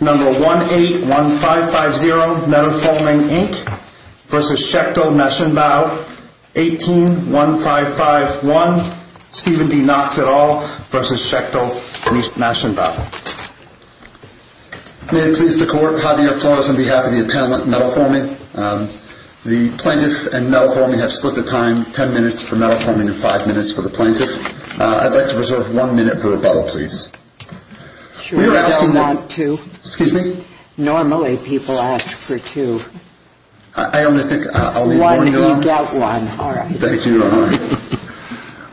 18-1551 Stephen D. Knox et al. v. Schechtl Maschinenbau May it please the court, hot air applause on behalf of the appellant Metal Forming. The plaintiff and Metal Forming have split the time. Ten minutes for Metal Forming and five minutes for the plaintiff. I'd like to reserve one minute for rebuttal please. I don't want two. Normally people ask for two. I only think I'll need one. One, you got one. Thank you.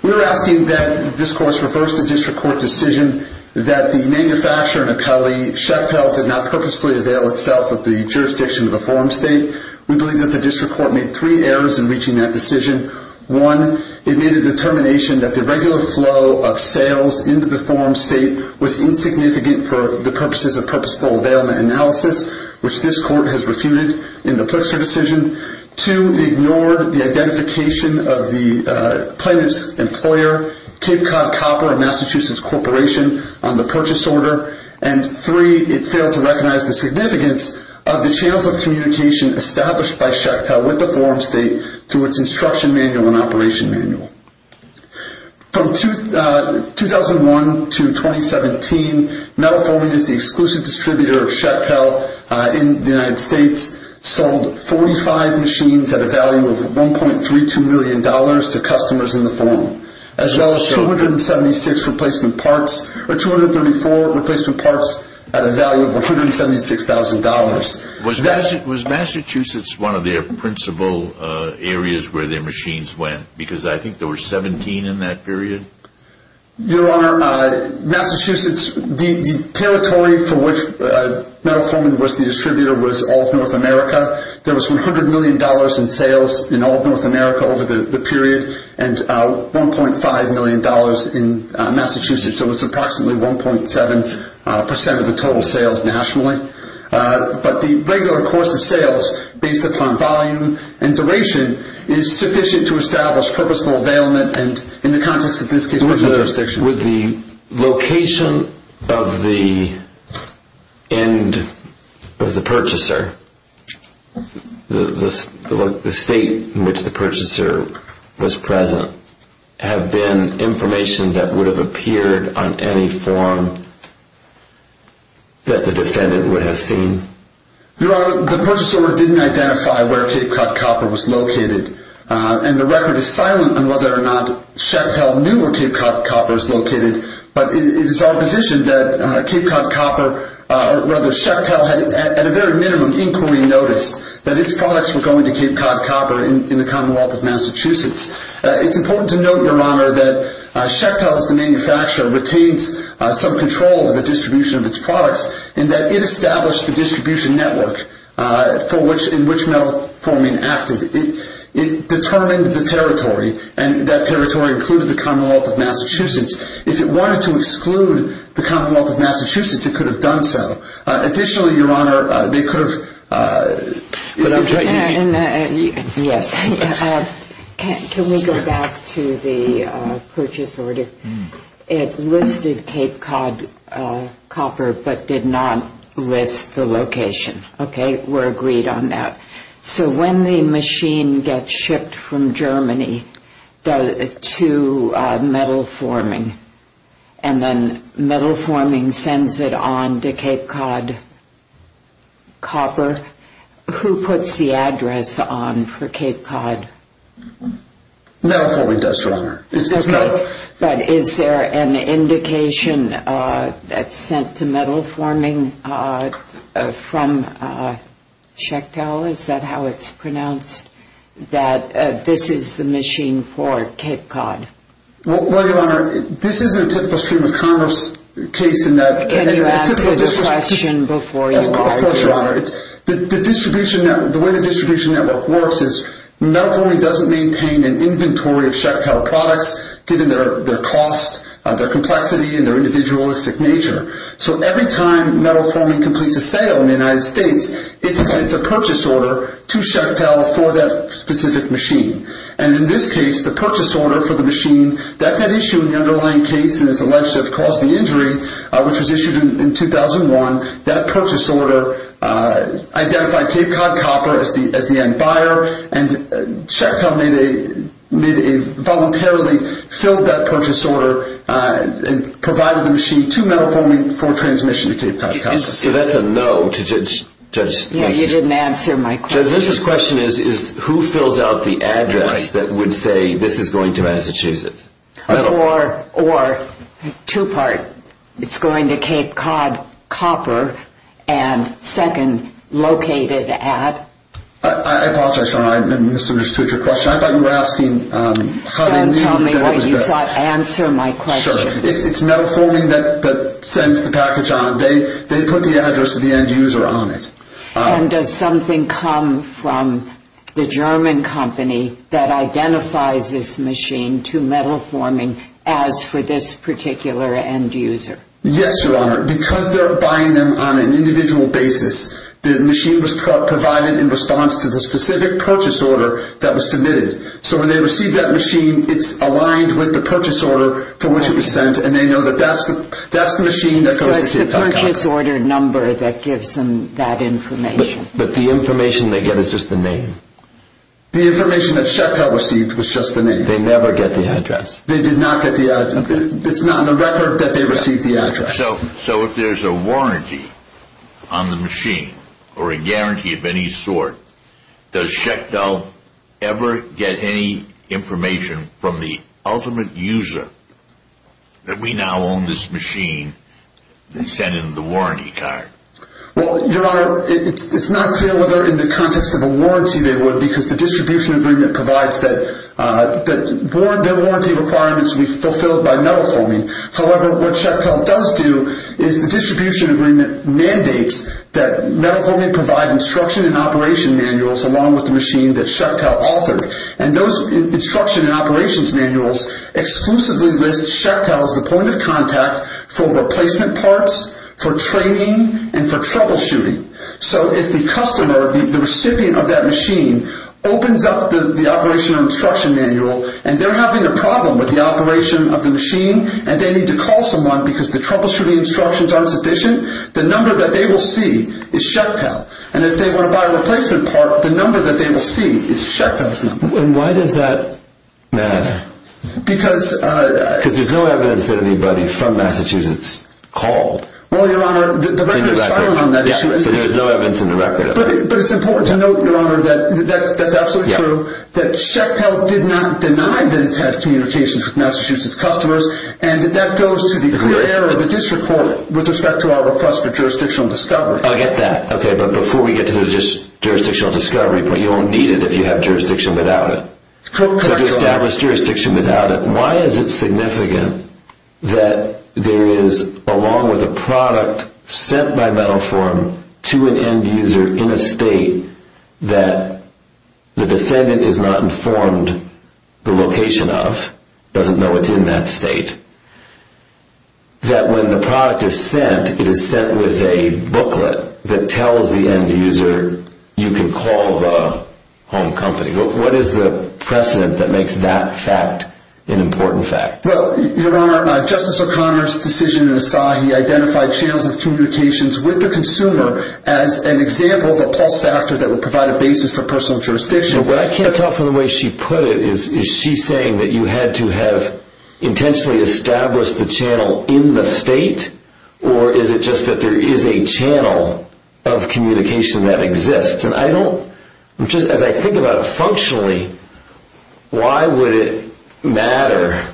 We're asking that this course refers to district court decision that the manufacturer and accolade Schechtl did not purposefully avail itself of the jurisdiction of the forum state. We believe that the district court made three errors in reaching that decision. One, it made a determination that the regular flow of sales into the forum state was insignificant for the purposes of purposeful availment analysis, which this court has refuted in the Plexer decision. Two, it ignored the identification of the plaintiff's employer Cape Cod Copper, a Massachusetts corporation on the purchase order. And three, it failed to recognize the significance of the channels of communication established by Schechtl with the forum state through its instruction manual and operation manual. From 2001 to 2017, Metal Forming is the exclusive distributor of Schechtl in the United States, sold 45 machines at a value of $1.32 million to customers in the forum, as well as 274 replacement parts at a value of $176,000. Was Massachusetts one of their principal areas where their machines went? Because I think there were 17 in that period. Your Honor, Massachusetts, the territory for which Metal Forming was the distributor was all of North America. There was $100 million in sales in all of North America over the period, and $1.5 million in Massachusetts, so it was approximately 1.7% of the total sales nationally. But the regular course of sales, based upon volume and duration, is sufficient to establish purposeful availment, and in the context of this case, there's no jurisdiction. Would the location of the end of the purchaser, the state in which the purchaser was present, have been information that would have appeared on any form that the defendant would have seen? Your Honor, the purchaser didn't identify where Cape Cod Copper was located, and the record is silent on whether or not Schechtl knew where Cape Cod Copper was located, but it is our position that Cape Cod Copper, or rather, Schechtl had at a very minimum inquiry notice that its products were going to Cape Cod Copper in the Commonwealth of Massachusetts. It's important to note, Your Honor, that Schechtl, as the manufacturer, retains some control over the distribution of its products, in that it established the distribution network in which Metal Forming acted. It determined the territory, and that territory included the Commonwealth of Massachusetts. If it wanted to exclude the Commonwealth of Massachusetts, it could have done so. Additionally, Your Honor, they could have... Yes, can we go back to the purchase order? It listed Cape Cod Copper, but did not list the location. Okay, we're agreed on that. So when the machine gets shipped from Germany to Metal Forming, and then Metal Forming sends it on to Cape Cod Copper, who puts the address on for Cape Cod? Metal Forming does, Your Honor. But is there an indication that's sent to Metal Forming from Schechtl? Is that how it's pronounced, that this is the machine for Cape Cod? Well, Your Honor, this isn't a typical stream of commerce case in that... Can you answer the question before you argue? Of course, Your Honor. The way the distribution network works is, Metal Forming doesn't maintain an inventory of Schechtl products, given their cost, their complexity, and their individualistic nature. So every time Metal Forming completes a sale in the United States, it sends a purchase order to Schechtl for that specific machine. And in this case, the purchase order for the machine that's at issue in the underlying case and is alleged to have caused the injury, which was issued in 2001, that purchase order identified Cape Cod Copper as the end buyer, and Schechtl voluntarily filled that purchase order and provided the machine to Metal Forming for transmission to Cape Cod Copper. So that's a no to the judge's question? You didn't answer my question. The judge's question is, who fills out the address that would say, this is going to Massachusetts? Or, two-part, it's going to Cape Cod Copper, and second, located at? I apologize, Your Honor, I misunderstood your question. I thought you were asking how they knew that it was there. Then tell me what you thought. Answer my question. Sure. It's Metal Forming that sends the package on. They put the address of the end user on it. And does something come from the German company that identifies this machine to Metal Forming as for this particular end user? Yes, Your Honor. Because they're buying them on an individual basis, the machine was provided in response to the specific purchase order that was submitted. So when they receive that machine, it's aligned with the purchase order for which it was sent, It's a purchase order number that gives them that information. But the information they get is just the name? The information that Shechtel received was just the name. They never get the address? They did not get the address. It's not in the record that they received the address. So if there's a warranty on the machine, or a guarantee of any sort, does Shechtel ever get any information from the ultimate user that we now own this machine and send them the warranty card? Well, Your Honor, it's not clear whether in the context of a warranty they would because the distribution agreement provides that the warranty requirements be fulfilled by Metal Forming. However, what Shechtel does do is the distribution agreement mandates that Metal Forming provide instruction and operation manuals along with the machine that Shechtel authored. And those instruction and operations manuals exclusively list Shechtel as the point of contact for replacement parts, for training, and for troubleshooting. So if the customer, the recipient of that machine, opens up the operation and instruction manual and they're having a problem with the operation of the machine and they need to call someone because the troubleshooting instructions aren't sufficient, the number that they will see is Shechtel. And if they want to buy a replacement part, the number that they will see is Shechtel's number. And why does that matter? Because... Because there's no evidence that anybody from Massachusetts called. Well, Your Honor, the record is silent on that issue. So there's no evidence in the record of that. But it's important to note, Your Honor, that that's absolutely true, that Shechtel did not deny that it's had communications with Massachusetts customers and that that goes to the clear error of the district court with respect to our request for jurisdictional discovery. I get that. Okay, but before we get to the jurisdictional discovery point, you won't need it if you have jurisdiction without it. Correct, Your Honor. So to establish jurisdiction without it, why is it significant that there is, along with a product sent by metal form, to an end user in a state that the defendant is not informed the location of, doesn't know it's in that state, that when the product is sent, it is sent with a booklet that tells the end user, you can call the home company. What is the precedent that makes that fact an important fact? Well, Your Honor, Justice O'Connor's decision in Asahi identified channels of communications with the consumer as an example of a plus factor that would provide a basis for personal jurisdiction. But I can't tell from the way she put it, is she saying that you had to have intentionally established the channel in the state, or is it just that there is a channel of communication that exists? And I don't, as I think about it functionally, why would it matter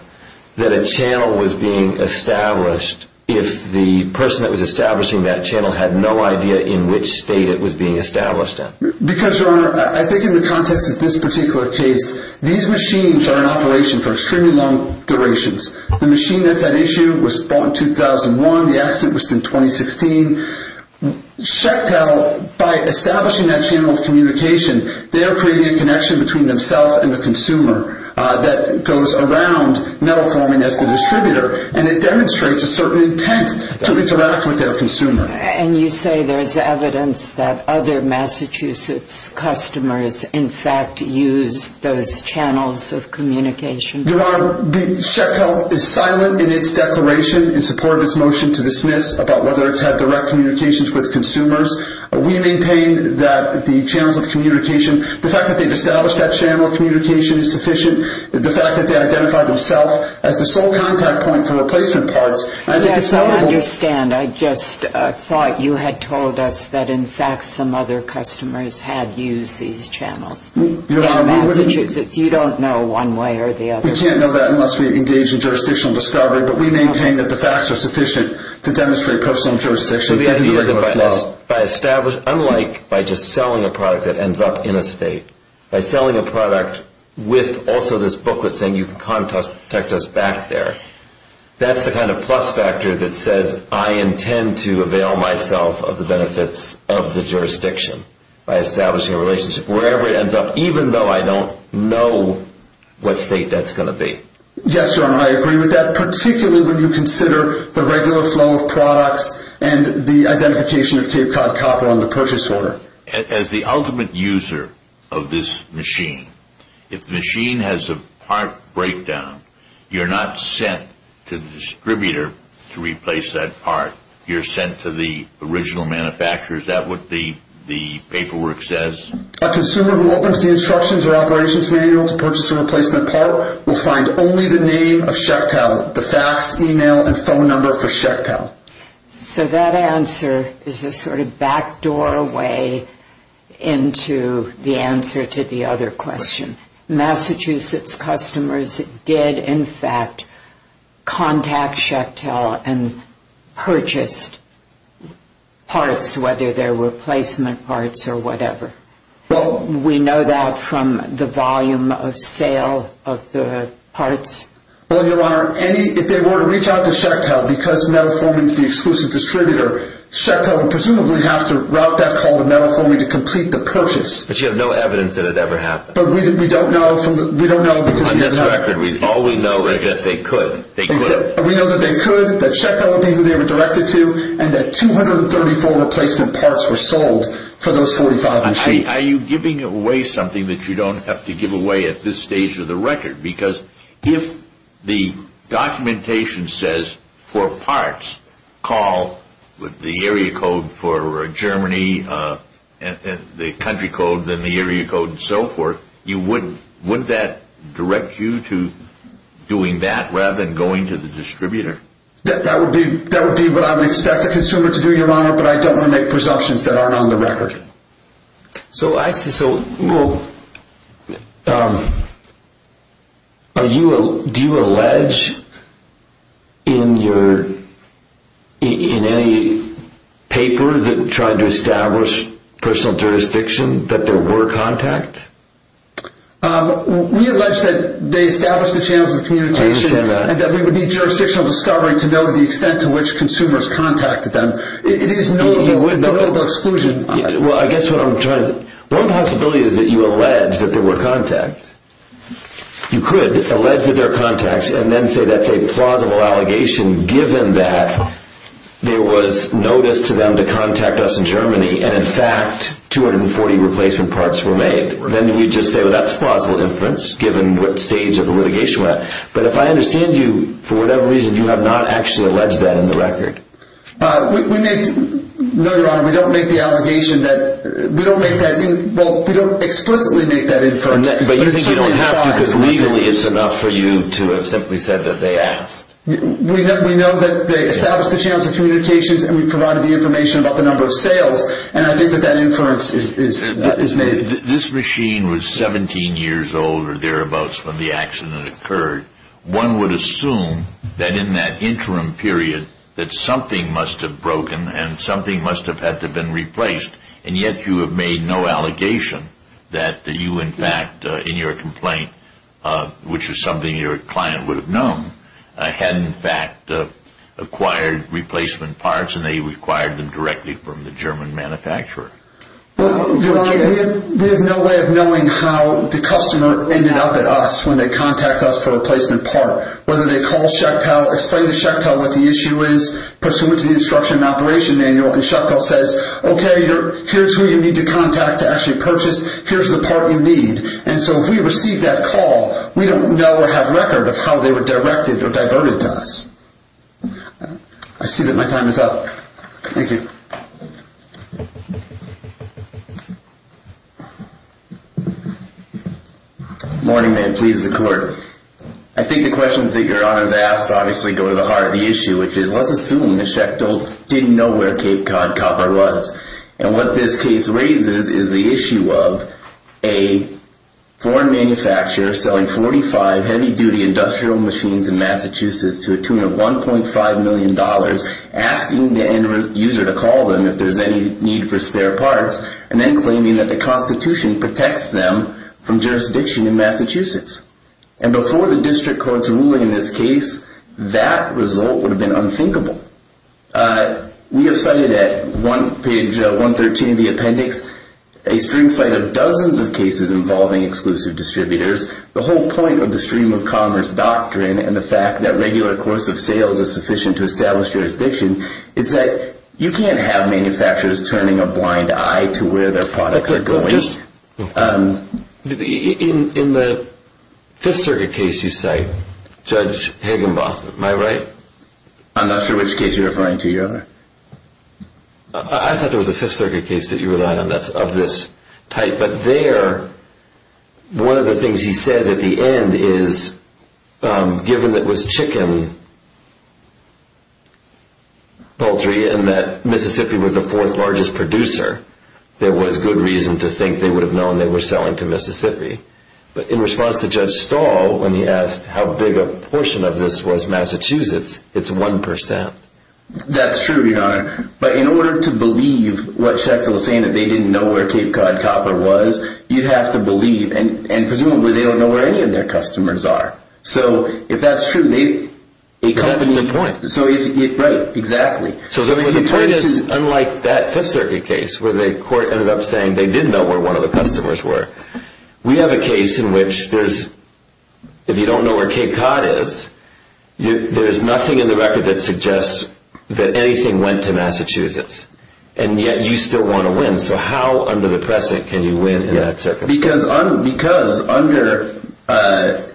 that a channel was being established if the person that was establishing that channel had no idea in which state it was being established in? Because, Your Honor, I think in the context of this particular case, these machines are in operation for extremely long durations. The machine that's at issue was bought in 2001. The accident was in 2016. Shechtel, by establishing that channel of communication, they are creating a connection between themselves and the consumer that goes around metal forming as the distributor, and it demonstrates a certain intent to interact with their consumer. And you say there is evidence that other Massachusetts customers in fact use those channels of communication? Your Honor, Shechtel is silent in its declaration, in support of its motion to dismiss, about whether it's had direct communications with consumers. We maintain that the channels of communication, the fact that they've established that channel of communication is sufficient. The fact that they identify themselves as the sole contact point for replacement parts, Yes, I understand. I just thought you had told us that, in fact, some other customers had used these channels. In Massachusetts, you don't know one way or the other. We can't know that unless we engage in jurisdictional discovery, but we maintain that the facts are sufficient to demonstrate personal jurisdiction. By establishing, unlike by just selling a product that ends up in a state, by selling a product with also this booklet saying you can contact us back there, that's the kind of plus factor that says, I intend to avail myself of the benefits of the jurisdiction by establishing a relationship wherever it ends up, even though I don't know what state that's going to be. Yes, Your Honor, I agree with that, particularly when you consider the regular flow of products and the identification of Cape Cod Copper on the purchase order. As the ultimate user of this machine, if the machine has a part breakdown, you're not sent to the distributor to replace that part. You're sent to the original manufacturer. Is that what the paperwork says? A consumer who opens the instructions or operations manual to purchase a replacement part will find only the name of Shechtel, the fax, email, and phone number for Shechtel. So that answer is a sort of backdoor way into the answer to the other question. Massachusetts customers did, in fact, contact Shechtel and purchased parts, whether they were replacement parts or whatever. We know that from the volume of sale of the parts. Well, Your Honor, if they were to reach out to Shechtel because Metaforming is the exclusive distributor, Shechtel would presumably have to route that call to Metaforming to complete the purchase. But you have no evidence that it ever happened. On this record, all we know is that they could. We know that they could, that Shechtel would be who they were directed to, and that 234 replacement parts were sold for those 45 machines. Are you giving away something that you don't have to give away at this stage of the record? Because if the documentation says for parts, call the area code for Germany, the country code, then the area code and so forth, wouldn't that direct you to doing that rather than going to the distributor? That would be what I would expect the consumer to do, Your Honor, but I don't want to make presumptions that aren't on the record. So do you allege in any paper that tried to establish personal jurisdiction that there were contacts? We allege that they established the channels of communication and that we would need jurisdictional discovery to know the extent to which consumers contacted them. It is not about exclusion. Well, I guess what I'm trying to... One possibility is that you allege that there were contacts. You could allege that there are contacts and then say that's a plausible allegation given that there was notice to them to contact us in Germany and, in fact, 240 replacement parts were made. Then we'd just say, well, that's plausible inference given what stage of the litigation we're at. you have not actually alleged that in the record. We make... No, Your Honor, we don't make the allegation that... We don't make that... Well, we don't explicitly make that inference. But you think you don't have to because legally it's enough for you to have simply said that they asked. We know that they established the channels of communications and we provided the information about the number of sales and I think that that inference is made. This machine was 17 years old or thereabouts when the accident occurred. One would assume that in that interim period that something must have broken and something must have had to have been replaced and yet you have made no allegation that you, in fact, in your complaint which is something your client would have known had, in fact, acquired replacement parts and they required them directly from the German manufacturer. Your Honor, we have no way of knowing how the customer ended up at us when they contact us for a replacement part. Whether they call Schectel, explain to Schectel what the issue is pursuant to the instruction in the operation manual and Schectel says, OK, here's who you need to contact to actually purchase. Here's the part you need. And so if we receive that call, we don't know or have record of how they were directed or diverted to us. I see that my time is up. Thank you. Morning, ma'am. Please, the court. I think the questions that your Honor has asked obviously go to the heart of the issue which is let's assume that Schectel didn't know where Cape Cod Copper was. And what this case raises is the issue of a foreign manufacturer selling 45 heavy-duty industrial machines in Massachusetts to a tune of $1.5 million asking the end user to call them if there's any need for spare parts and then claiming that the Constitution protects them from jurisdiction in Massachusetts. And before the district court's ruling in this case, that result would have been unthinkable. We have cited at page 113 of the appendix a string set of dozens of cases involving exclusive distributors. The whole point of the stream of commerce doctrine and the fact that regular course of sales is sufficient to establish jurisdiction is that you can't have manufacturers turning a blind eye to where their products are going. In the Fifth Circuit case you cite, Judge Higginbotham, am I right? I'm not sure which case you're referring to, Your Honor. I thought there was a Fifth Circuit case that you relied on that's of this type. But there, one of the things he says at the end is given that it was chicken poultry and that Mississippi was the fourth largest producer, there was good reason to think they would have known they were selling to Mississippi. But in response to Judge Stahl, when he asked how big a portion of this was Massachusetts, it's 1%. That's true, Your Honor. But in order to believe what Sheckle is saying, that they didn't know where Cape Cod Copper was, you have to believe, and presumably they don't know where any of their customers are. So if that's true, a company... That's the point. Right, exactly. So the point is, unlike that Fifth Circuit case where the court ended up saying they did know where one of the customers were, we have a case in which there's, if you don't know where Cape Cod is, there's nothing in the record that suggests that anything went to Massachusetts. And yet you still want to win. So how under the present can you win in that circuit? Because under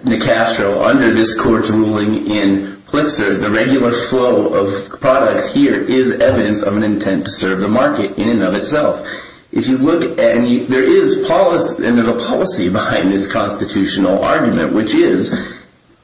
Nicastro, under this court's ruling in Plitzer, the regular flow of products here is evidence of an intent to serve the market in and of itself. If you look at any... There is a policy behind this constitutional argument, which is...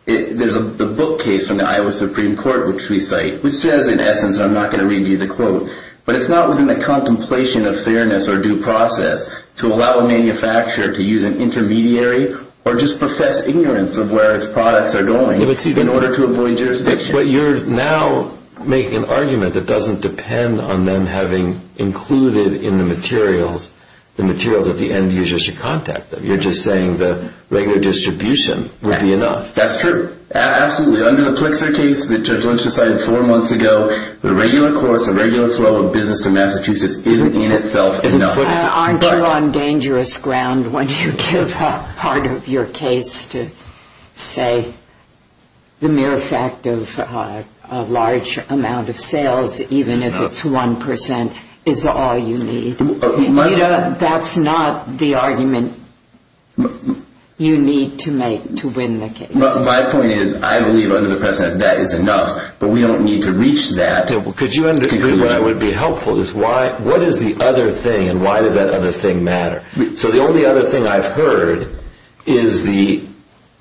There's a book case from the Iowa Supreme Court, which we cite, which says, in essence, and I'm not going to read you the quote, but it's not within the contemplation of fairness or due process to allow a manufacturer to use an intermediary or just profess ignorance of where its products are going in order to avoid jurisdiction. But you're now making an argument that doesn't depend on them having included in the materials the material that the end user should contact them. You're just saying the regular distribution would be enough. That's true. Absolutely. Under the Plitzer case that Judge Lynch decided four months ago, the regular course, the regular flow of business to Massachusetts isn't in itself enough. Aren't you on dangerous ground when you give part of your case to, say, the mere fact of a large amount of sales, even if it's 1%, is all you need? That's not the argument you need to make to win the case. My point is I believe under the precedent that is enough, but we don't need to reach that conclusion. What I would be helpful is what is the other thing and why does that other thing matter? The only other thing I've heard is the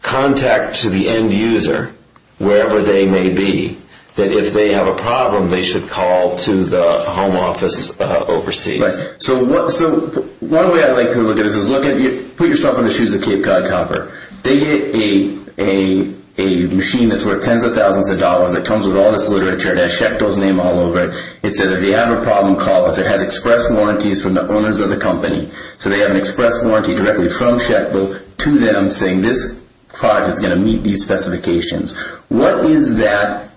contact to the end user, wherever they may be, that if they have a problem they should call to the home office overseas. One way I like to look at it is put yourself in the shoes of Cape Cod Copper. They get a machine that's worth tens of thousands of dollars. It comes with all this literature. It has Schecto's name all over it. It says if they have a problem, call us. It has express warranties from the owners of the company. They have an express warranty directly from Schecto to them saying this product is going to meet these specifications. What is that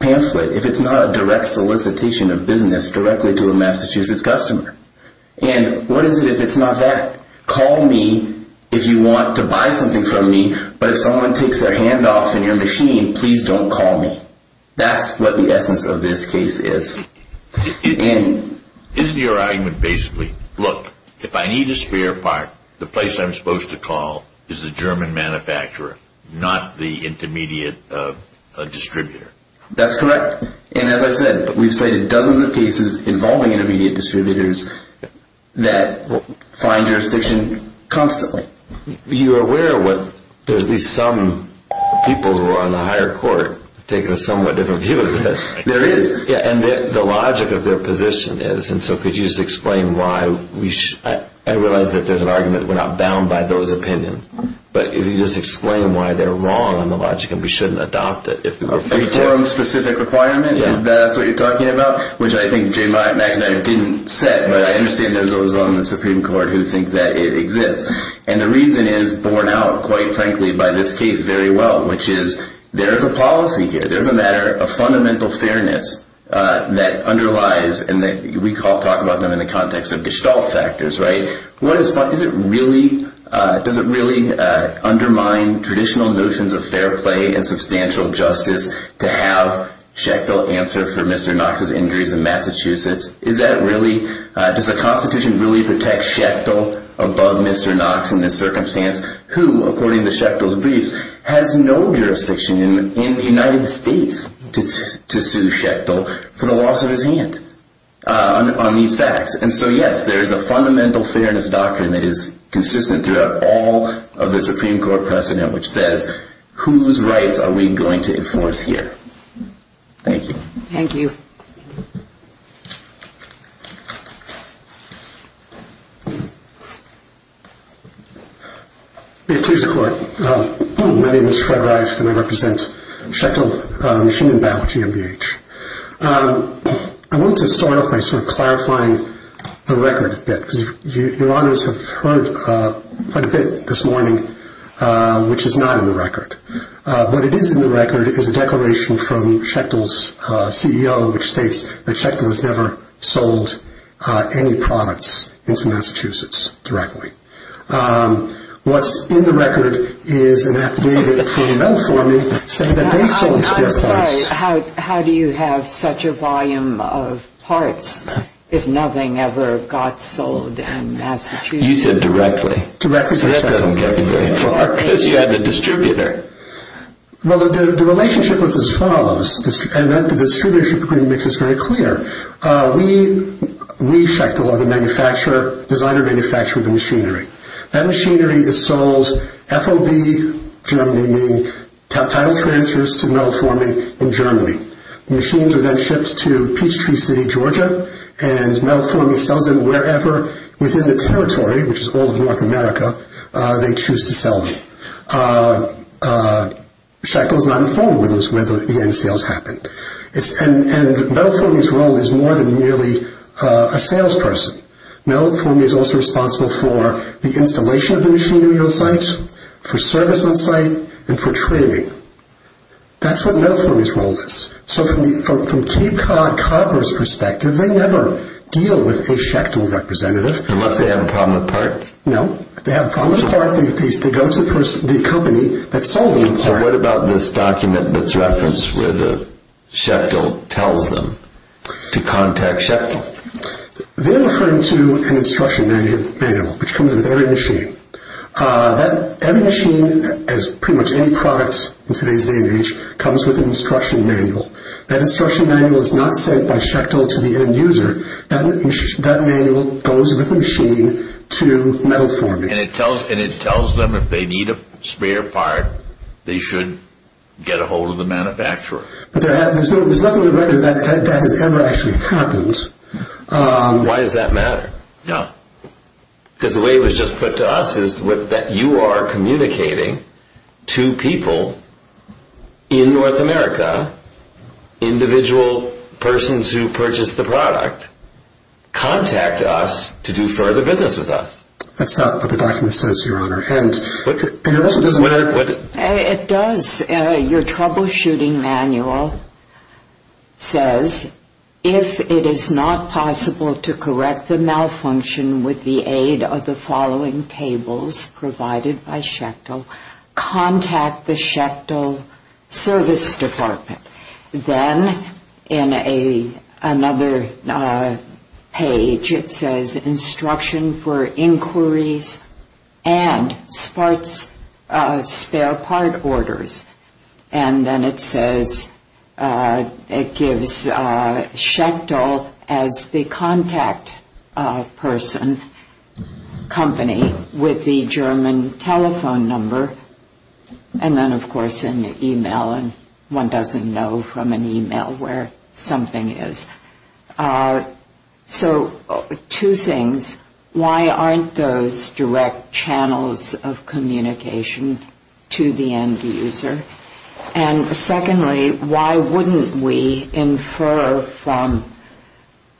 pamphlet if it's not a direct solicitation of business directly to a Massachusetts customer? What is it if it's not that? Call me if you want to buy something from me, but if someone takes their hand off in your machine, please don't call me. That's what the essence of this case is. Isn't your argument basically, look, if I need a spare part, the place I'm supposed to call is the German manufacturer, not the intermediate distributor? That's correct. As I said, we've cited dozens of cases involving intermediate distributors that find jurisdiction constantly. You're aware there's at least some people who are on the higher court taking a somewhat different view of this. There is. And the logic of their position is, and so could you just explain why we should, I realize that there's an argument that we're not bound by those opinions, but if you just explain why they're wrong on the logic and we shouldn't adopt it if we were free to. A forum-specific requirement, if that's what you're talking about, which I think Jay McInerney didn't set, but I understand there's those on the Supreme Court who think that it exists. And the reason is borne out, quite frankly, by this case very well, which is there is a policy here. There is a matter of fundamental fairness that underlies, and we talk about them in the context of gestalt factors, right? Does it really undermine traditional notions of fair play and substantial justice to have checked or answered for Mr. Knox's injuries in Massachusetts? Does the Constitution really protect Schechtel above Mr. Knox in this circumstance, who, according to Schechtel's briefs, has no jurisdiction in the United States to sue Schechtel for the loss of his hand on these facts? And so, yes, there is a fundamental fairness doctrine that is consistent throughout all of the Supreme Court precedent, which says whose rights are we going to enforce here? Thank you. Thank you. Thank you. May it please the Court. My name is Fred Reif, and I represent Schechtel Machine and Biology, MBH. I want to start off by sort of clarifying the record a bit, because Your Honors have heard quite a bit this morning, which is not in the record. What it is in the record is a declaration from Schechtel's CEO, which states that Schechtel has never sold any products into Massachusetts directly. What's in the record is an affidavit from them, for me, saying that they sold spare parts. I'm sorry. How do you have such a volume of parts if nothing ever got sold in Massachusetts? You said directly. Directly. That doesn't get me very far, because you had the distributor. Well, the relationship was as follows, and the distributorship agreement makes this very clear. We, Schechtel, are the designer-manufacturer of the machinery. That machinery is sold FOB Germany, meaning title transfers to metal forming in Germany. The machines are then shipped to Peachtree City, Georgia, and Metal Forming sells them wherever within the territory, which is all of North America, they choose to sell them. Schechtel is not informed whether the end sales happened. Metal Forming's role is more than merely a salesperson. Metal Forming is also responsible for the installation of the machinery on site, for service on site, and for training. That's what Metal Forming's role is. So from Cape Cod Copper's perspective, they never deal with a Schechtel representative. Unless they have a problem with parts? No. If they have a problem with parts, they go to the company that sold them parts. So what about this document that's referenced where Schechtel tells them to contact Schechtel? They're referring to an instruction manual, which comes with every machine. That machine, as pretty much any product in today's day and age, comes with an instruction manual. That instruction manual is not sent by Schechtel to the end user. That manual goes with the machine to Metal Forming. And it tells them if they need a spare part, they should get a hold of the manufacturer. There's nothing in the record that has ever actually happened. Why does that matter? Because the way it was just put to us is that you are communicating to people in North America, individual persons who purchased the product, contact us to do further business with us. That's not what the document says, Your Honor. It does. Your troubleshooting manual says, if it is not possible to correct the malfunction with the aid of the following tables provided by Schechtel, contact the Schechtel Service Department. Then, in another page, it says, Instruction for Inquiries and Spare Part Orders. And then it says, it gives Schechtel as the contact person, company, with the German telephone number. And then, of course, an e-mail. And one doesn't know from an e-mail where something is. So two things. Why aren't those direct channels of communication to the end user? And secondly, why wouldn't we infer from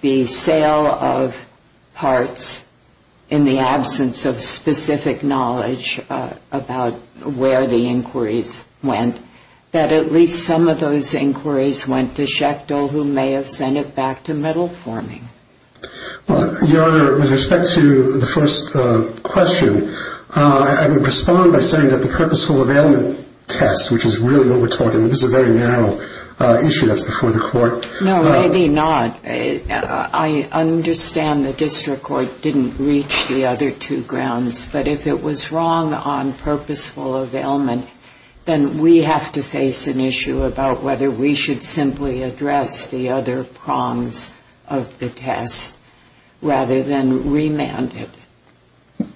the sale of parts in the absence of specific knowledge about where the inquiries went, that at least some of those inquiries went to Schechtel, who may have sent it back to Metal Forming? Your Honor, with respect to the first question, I would respond by saying that the purposeful availment test, which is really what we're talking about, this is a very narrow issue that's before the court. No, maybe not. I understand the district court didn't reach the other two grounds. But if it was wrong on purposeful availment, then we have to face an issue about whether we should simply address the other prongs of the test rather than remand it.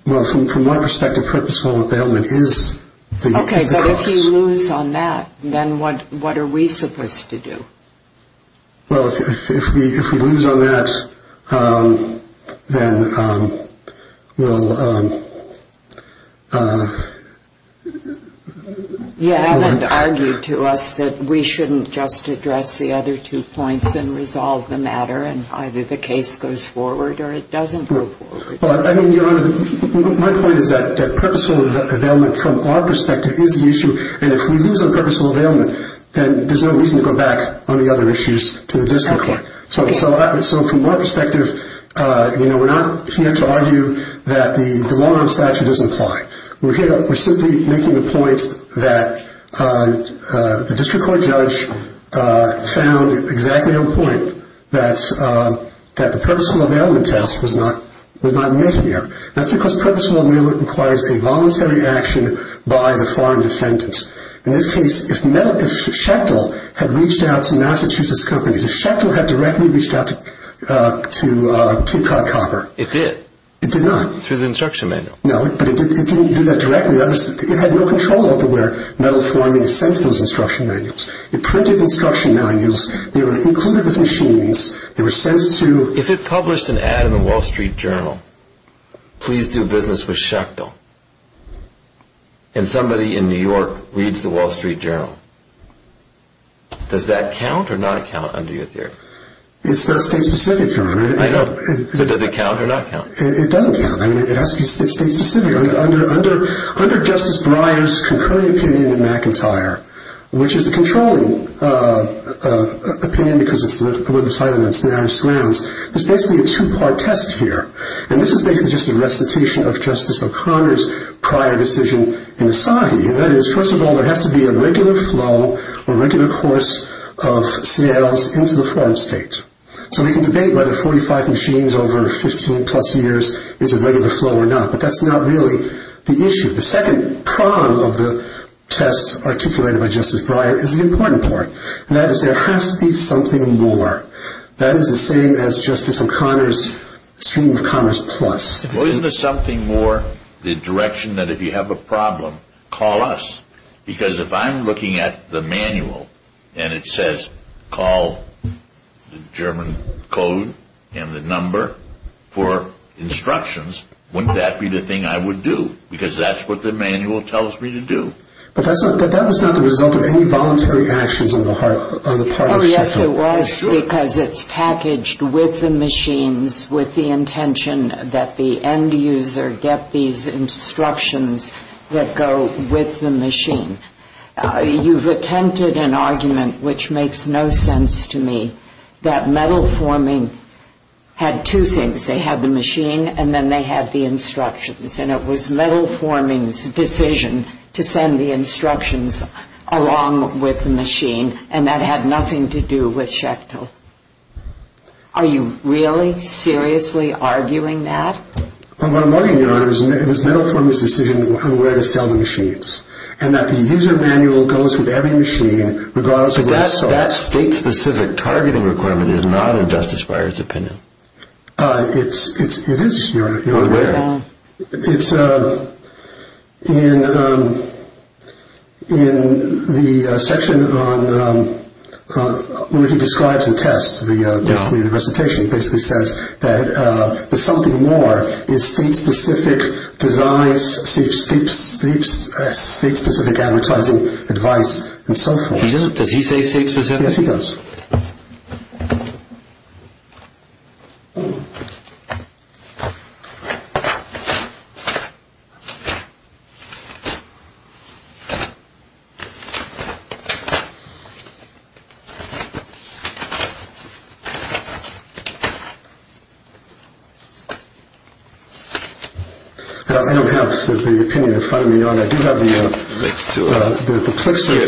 Well, from my perspective, purposeful availment is the cost. Okay. But if we lose on that, then what are we supposed to do? Well, if we lose on that, then we'll... Yeah, and argue to us that we shouldn't just address the other two points and resolve the matter, and either the case goes forward or it doesn't go forward. Well, I mean, Your Honor, my point is that purposeful availment from our perspective is the issue, and if we lose on purposeful availment, then there's no reason to go back on the other issues to the district court. Okay. So from our perspective, you know, we're not here to argue that the long-run statute doesn't apply. We're simply making the point that the district court judge found exactly on point that the purposeful availment test was not met here. That's because purposeful availment requires a voluntary action by the foreign defendant. In this case, if Shechtel had reached out to Massachusetts companies, if Shechtel had directly reached out to Peacock Copper... It did. It did not. Through the instruction manual. No, but it didn't do that directly. It had no control over where metal forming is sent to those instruction manuals. It printed instruction manuals. They were included with machines. They were sent to... If it published an ad in the Wall Street Journal, please do business with Shechtel, and somebody in New York reads the Wall Street Journal, does that count or not count under your theory? It's not state-specific, Your Honor. I know, but does it count or not count? It doesn't count. I mean, it has to be state-specific. Under Justice Breyer's concurrent opinion in McIntyre, which is the controlling opinion because it's the one decided on scenarios grounds, there's basically a two-part test here. And this is basically just a recitation of Justice O'Connor's prior decision in Asahi. And that is, first of all, there has to be a regular flow, a regular course of sales into the foreign state. So we can debate whether 45 machines over 15-plus years is a regular flow or not, but that's not really the issue. The second prong of the tests articulated by Justice Breyer is an important one, and that is there has to be something more. That is the same as Justice O'Connor's stream of commerce plus. Well, isn't there something more, the direction that if you have a problem, call us? Because if I'm looking at the manual, and it says call the German code and the number for instructions, wouldn't that be the thing I would do? Because that's what the manual tells me to do. But that was not the result of any voluntary actions on the part of Justice O'Connor. Oh, yes, it was because it's packaged with the machines with the intention that the end user get these instructions that go with the machine. You've attempted an argument, which makes no sense to me, that metal forming had two things. They had the machine and then they had the instructions, and it was metal forming's decision to send the instructions along with the machine, and that had nothing to do with Schecto. Are you really seriously arguing that? Well, what I'm arguing, Your Honor, is it was metal forming's decision on where to sell the machines, and that the user manual goes with every machine regardless of where it's sold. But that state-specific targeting requirement is not in Justice Breyer's opinion. It is, Your Honor. In the section where he describes and tests the recitation, he basically says that the something more is state-specific designs, state-specific advertising advice, and so forth. Does he say state-specific? Yes, he does. I don't have the opinion in front of me, Your Honor. I do have the Plixer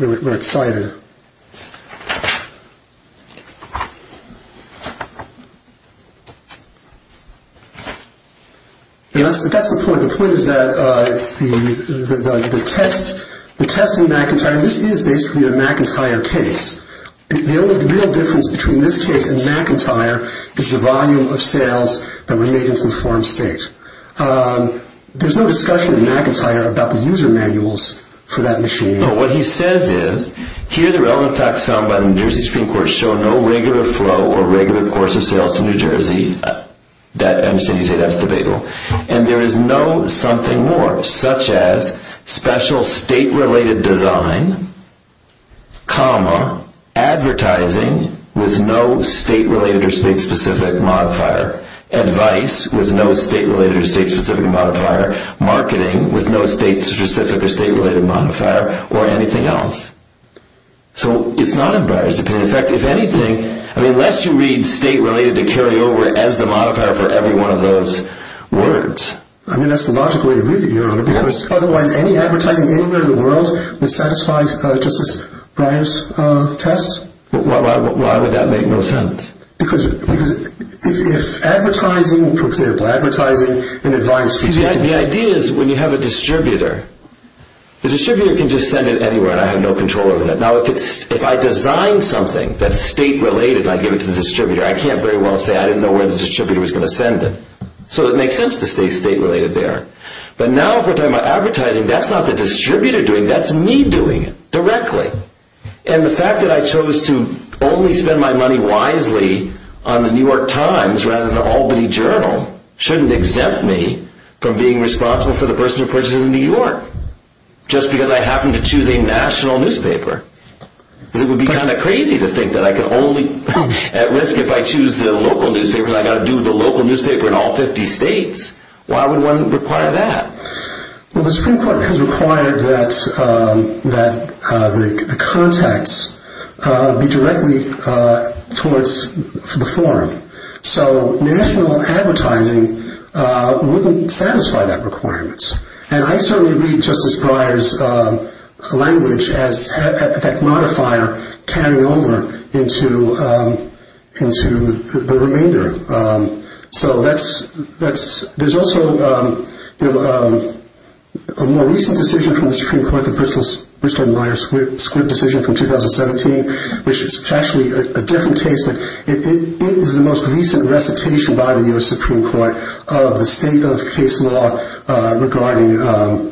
thing where it's cited. That's the point. The point is that the test in McIntyre, and this is basically a McIntyre case, the only real difference between this case and McIntyre is the volume of sales that were made in some form state. There's no discussion in McIntyre about the user manuals for that machine. No, what he says is, here the relevant facts found by the New Jersey Supreme Court show no regular flow or regular course of sales to New Jersey. I understand you say that's debatable. And there is no something more, such as special state-related design, comma, advertising with no state-related or state-specific modifier, advice with no state-related or state-specific modifier, marketing with no state-specific or state-related modifier, or anything else. So it's not in Breyer's opinion. In fact, if anything, unless you read state-related to carry over as the modifier for every one of those words. I mean, that's the logical way to read it, Your Honor, because otherwise any advertising anywhere in the world would satisfy Justice Breyer's test. Why would that make no sense? Because if advertising, for example, advertising and advice for taking... See, the idea is when you have a distributor, the distributor can just send it anywhere and I have no control over that. Now, if I design something that's state-related and I give it to the distributor, I can't very well say I didn't know where the distributor was going to send it. So it makes sense to stay state-related there. But now if we're talking about advertising, that's not the distributor doing it, that's me doing it, directly. And the fact that I chose to only spend my money wisely on the New York Times rather than Albany Journal shouldn't exempt me from being responsible for the person who purchased it in New York, just because I happen to choose a national newspaper. Because it would be kind of crazy to think that I could only... At risk if I choose the local newspaper and I've got to do the local newspaper in all 50 states. Why would one require that? Well, the Supreme Court has required that the contacts be directly towards the forum. So national advertising wouldn't satisfy that requirement. And I certainly read Justice Breyer's language as that modifier carrying over into the remainder. So there's also a more recent decision from the Supreme Court, the Bristol-Myers-Squibb decision from 2017, which is actually a different case, but it is the most recent recitation by the U.S. Supreme Court of the state of case law regarding a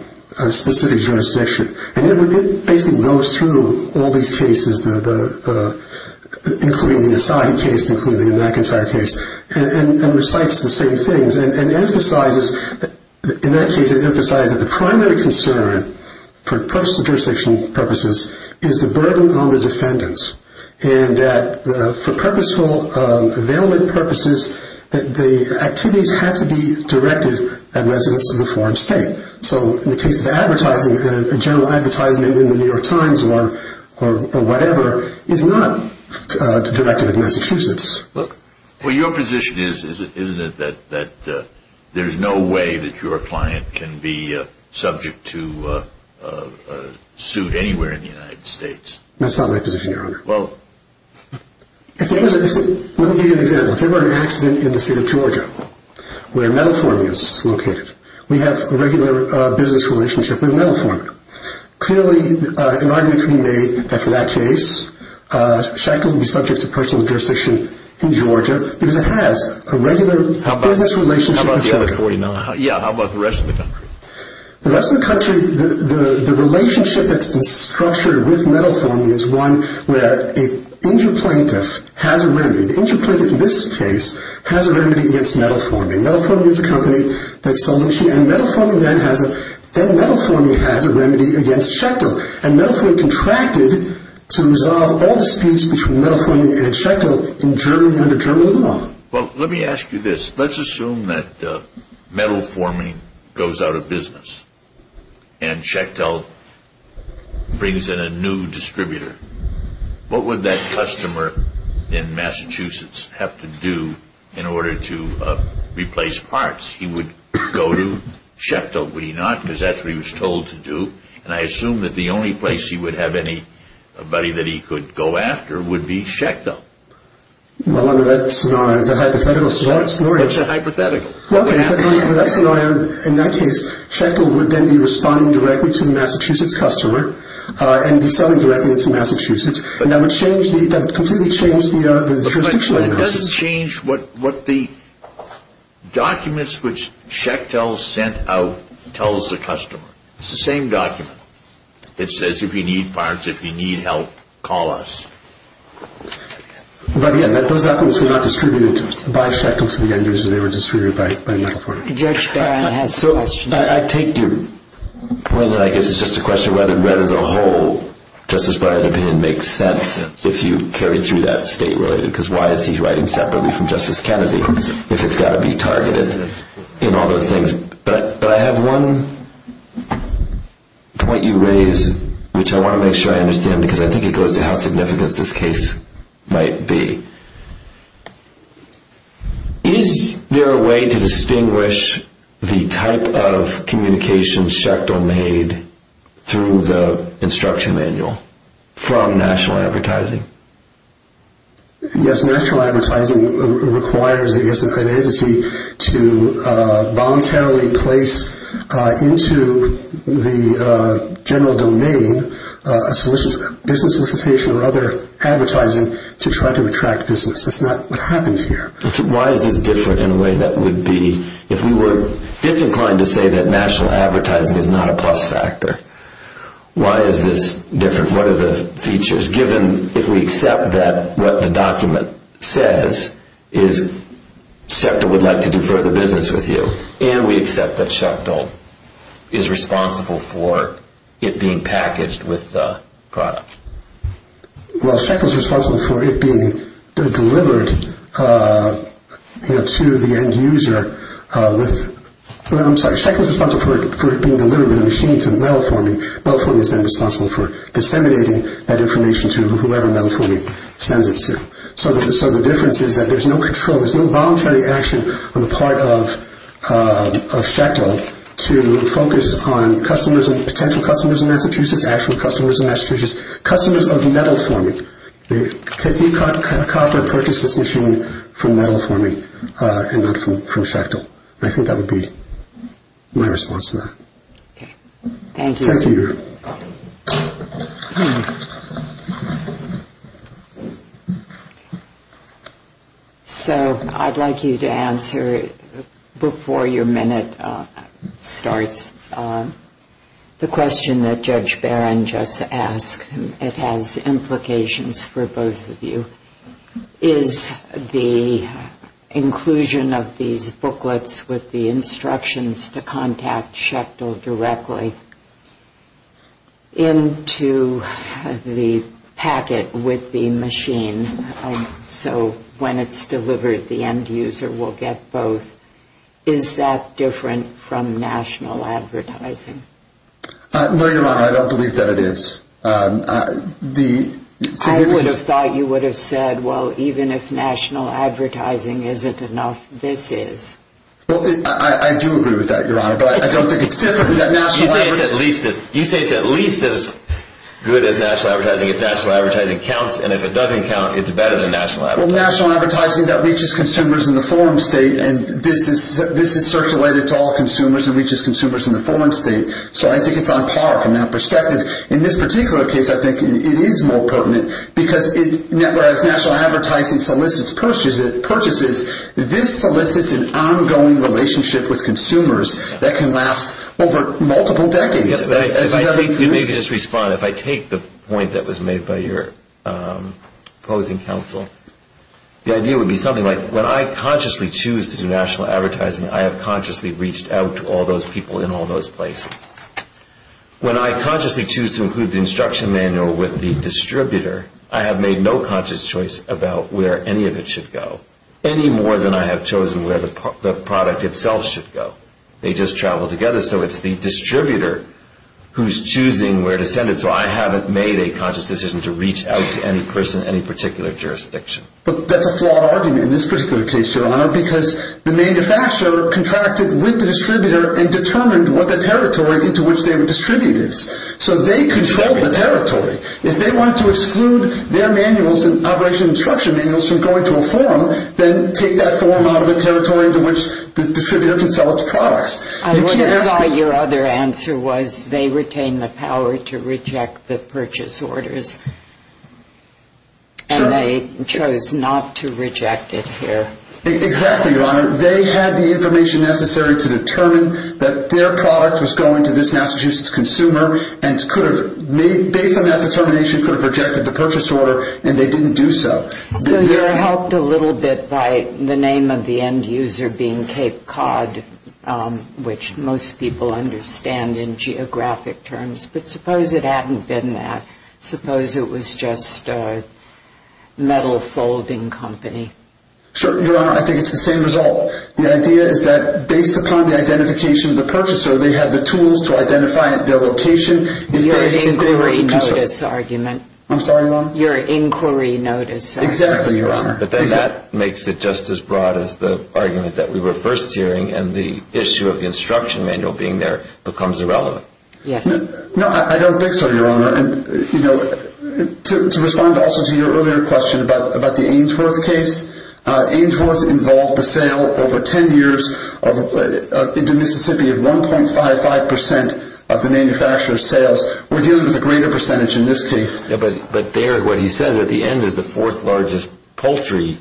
specific jurisdiction. And it basically goes through all these cases, including the Asahi case, including the McIntyre case, and recites the same things and emphasizes, in that case it emphasized that the primary concern for jurisdiction purposes is the burden on the defendants. And that for purposeful availment purposes, the activities have to be directed at residents of the foreign state. So in the case of advertising, a general advertisement in the New York Times or whatever is not directed at Massachusetts. Well, your position is, isn't it, that there's no way that your client can be subject to suit anywhere in the United States? That's not my position, Your Honor. Let me give you an example. If there were an accident in the state of Georgia, where Metalphorne is located, we have a regular business relationship with Metalphorne. Clearly, an argument can be made that for that case, Sheckler would be subject to personal jurisdiction in Georgia because it has a regular business relationship with Sheckler. How about the other 49? Yeah, how about the rest of the country? The rest of the country, the relationship that's been structured with Metalphorne is one where an injured plaintiff has a remedy. The injured plaintiff in this case has a remedy against Metalphorne. And Metalphorne is a company that's submission. And Metalphorne then has a remedy against Sheckler. And Metalphorne contracted to resolve all disputes between Metalphorne and Sheckler in Germany under German law. Well, let me ask you this. Let's assume that Metalphorne goes out of business and Sheckler brings in a new distributor. What would that customer in Massachusetts have to do in order to replace parts? He would go to Sheckler, would he not? Because that's what he was told to do. And I assume that the only place he would have anybody that he could go after would be Sheckler. Well, under that scenario, the hypothetical scenario. What's a hypothetical? Well, under that scenario, in that case, Sheckler would then be responding directly to the Massachusetts customer and be selling directly to Massachusetts. And that would completely change the jurisdictional analysis. But it doesn't change what the documents which Sheckler sent out tells the customer. It's the same document. It says if you need parts, if you need help, call us. But again, those documents were not distributed by Sheckler to the end users. They were distributed by Metalphorne. Judge Barron has a question. I take your point. I guess it's just a question of whether Brett as a whole, Justice Breyer's opinion makes sense, if you carry through that state-related, because why is he writing separately from Justice Kennedy if it's got to be targeted in all those things? But I have one point you raise, which I want to make sure I understand, because I think it goes to how significant this case might be. Is there a way to distinguish the type of communications Sheckler made through the instruction manual from national advertising? Yes, national advertising requires, I guess, an entity to voluntarily place into the general domain a business solicitation or other advertising to try to attract business. That's not what happens here. Why is this different in a way that would be, if we were disinclined to say that national advertising is not a plus factor, why is this different? What are the features, given if we accept that what the document says is Sheckler would like to do further business with you, and we accept that Sheckler is responsible for it being packaged with the product? Well, Sheckler's responsible for it being delivered to the end user with, I'm sorry, Sheckler's responsible for it being delivered with a machine to Melliformy. Melliformy is then responsible for disseminating that information to whoever Melliformy sends it to. So the difference is that there's no control, on the part of Sheckler to focus on potential customers in Massachusetts, actual customers in Massachusetts, customers of Melliformy. They can't be caught to purchase this machine from Melliformy and not from Sheckler. I think that would be my response to that. Okay. Thank you. Thank you. So I'd like you to answer, before your minute starts, the question that Judge Barron just asked. It has implications for both of you. Is the inclusion of these booklets with the instructions to contact Sheckler directly into the packet with the machine so when it's delivered the end user will get both, is that different from national advertising? Your Honor, I don't believe that it is. I would have thought you would have said, well, even if national advertising isn't enough, this is. I do agree with that, Your Honor, but I don't think it's different. You say it's at least as good as national advertising if national advertising counts, and if it doesn't count, it's better than national advertising. Well, national advertising that reaches consumers in the foreign state, and this is circulated to all consumers and reaches consumers in the foreign state, so I think it's on par from that perspective. In this particular case, I think it is more pertinent because, whereas national advertising solicits purchases, this solicits an ongoing relationship with consumers that can last over multiple decades. You may just respond. If I take the point that was made by your opposing counsel, the idea would be something like when I consciously choose to do national advertising, I have consciously reached out to all those people in all those places. When I consciously choose to include the instruction manual with the distributor, I have made no conscious choice about where any of it should go, any more than I have chosen where the product itself should go. They just travel together, so it's the distributor who's choosing where to send it, so I haven't made a conscious decision to reach out to any person in any particular jurisdiction. But that's a flawed argument in this particular case, Your Honor, because the manufacturer contracted with the distributor and determined what the territory into which they would distribute is, so they control the territory. If they want to exclude their manuals and operation instruction manuals from going to a forum, then take that forum out of the territory into which the distributor can sell its products. I would have thought your other answer was they retain the power to reject the purchase orders. Sure. And they chose not to reject it here. Exactly, Your Honor. They had the information necessary to determine that their product was going to this Massachusetts consumer and could have, based on that determination, could have rejected the purchase order, and they didn't do so. So you're helped a little bit by the name of the end user being Cape Cod, which most people understand in geographic terms. But suppose it hadn't been that. Suppose it was just a metal folding company. Sure, Your Honor. I think it's the same result. The idea is that based upon the identification of the purchaser, they had the tools to identify their location. Your inquiry notice argument. I'm sorry, Your Honor? Your inquiry notice argument. Exactly, Your Honor. But that makes it just as broad as the argument that we were first hearing, and the issue of the instruction manual being there becomes irrelevant. Yes. No, I don't think so, Your Honor. To respond also to your earlier question about the Ainsworth case, Ainsworth involved the sale over 10 years into Mississippi of 1.55% of the manufacturer's sales. We're dealing with a greater percentage in this case. But there, what he says at the end is the fourth largest poultry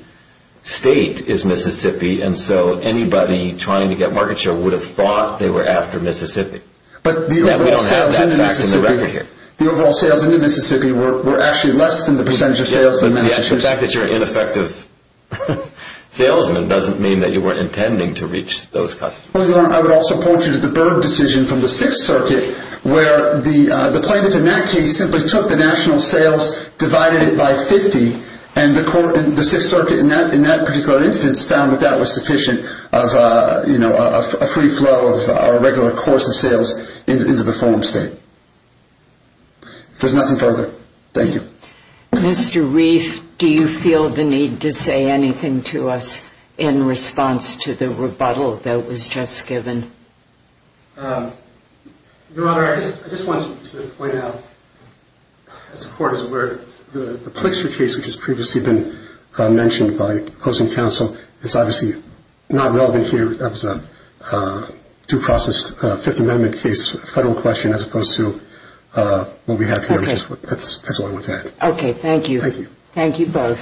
state is Mississippi, and so anybody trying to get market share would have thought they were after Mississippi. But the overall sales into Mississippi were actually less than the percentage of sales in Massachusetts. Yes. The fact that you're an ineffective salesman doesn't mean that you weren't intending to reach those customers. Well, Your Honor, I would also point you to the Byrd decision from the Sixth Circuit, where the plaintiff in that case simply took the national sales, divided it by 50, and the Sixth Circuit in that particular instance found that that was sufficient of, you know, a free flow of a regular course of sales into the farm state. If there's nothing further, thank you. Mr. Reif, do you feel the need to say anything to us in response to the rebuttal that was just given? Your Honor, I just wanted to point out, as the Court is aware, the Plixer case, which has previously been mentioned by opposing counsel, is obviously not relevant here. That was a due process Fifth Amendment case, federal question, as opposed to what we have here. That's all I wanted to add. Okay. Thank you. Thank you. Thank you both.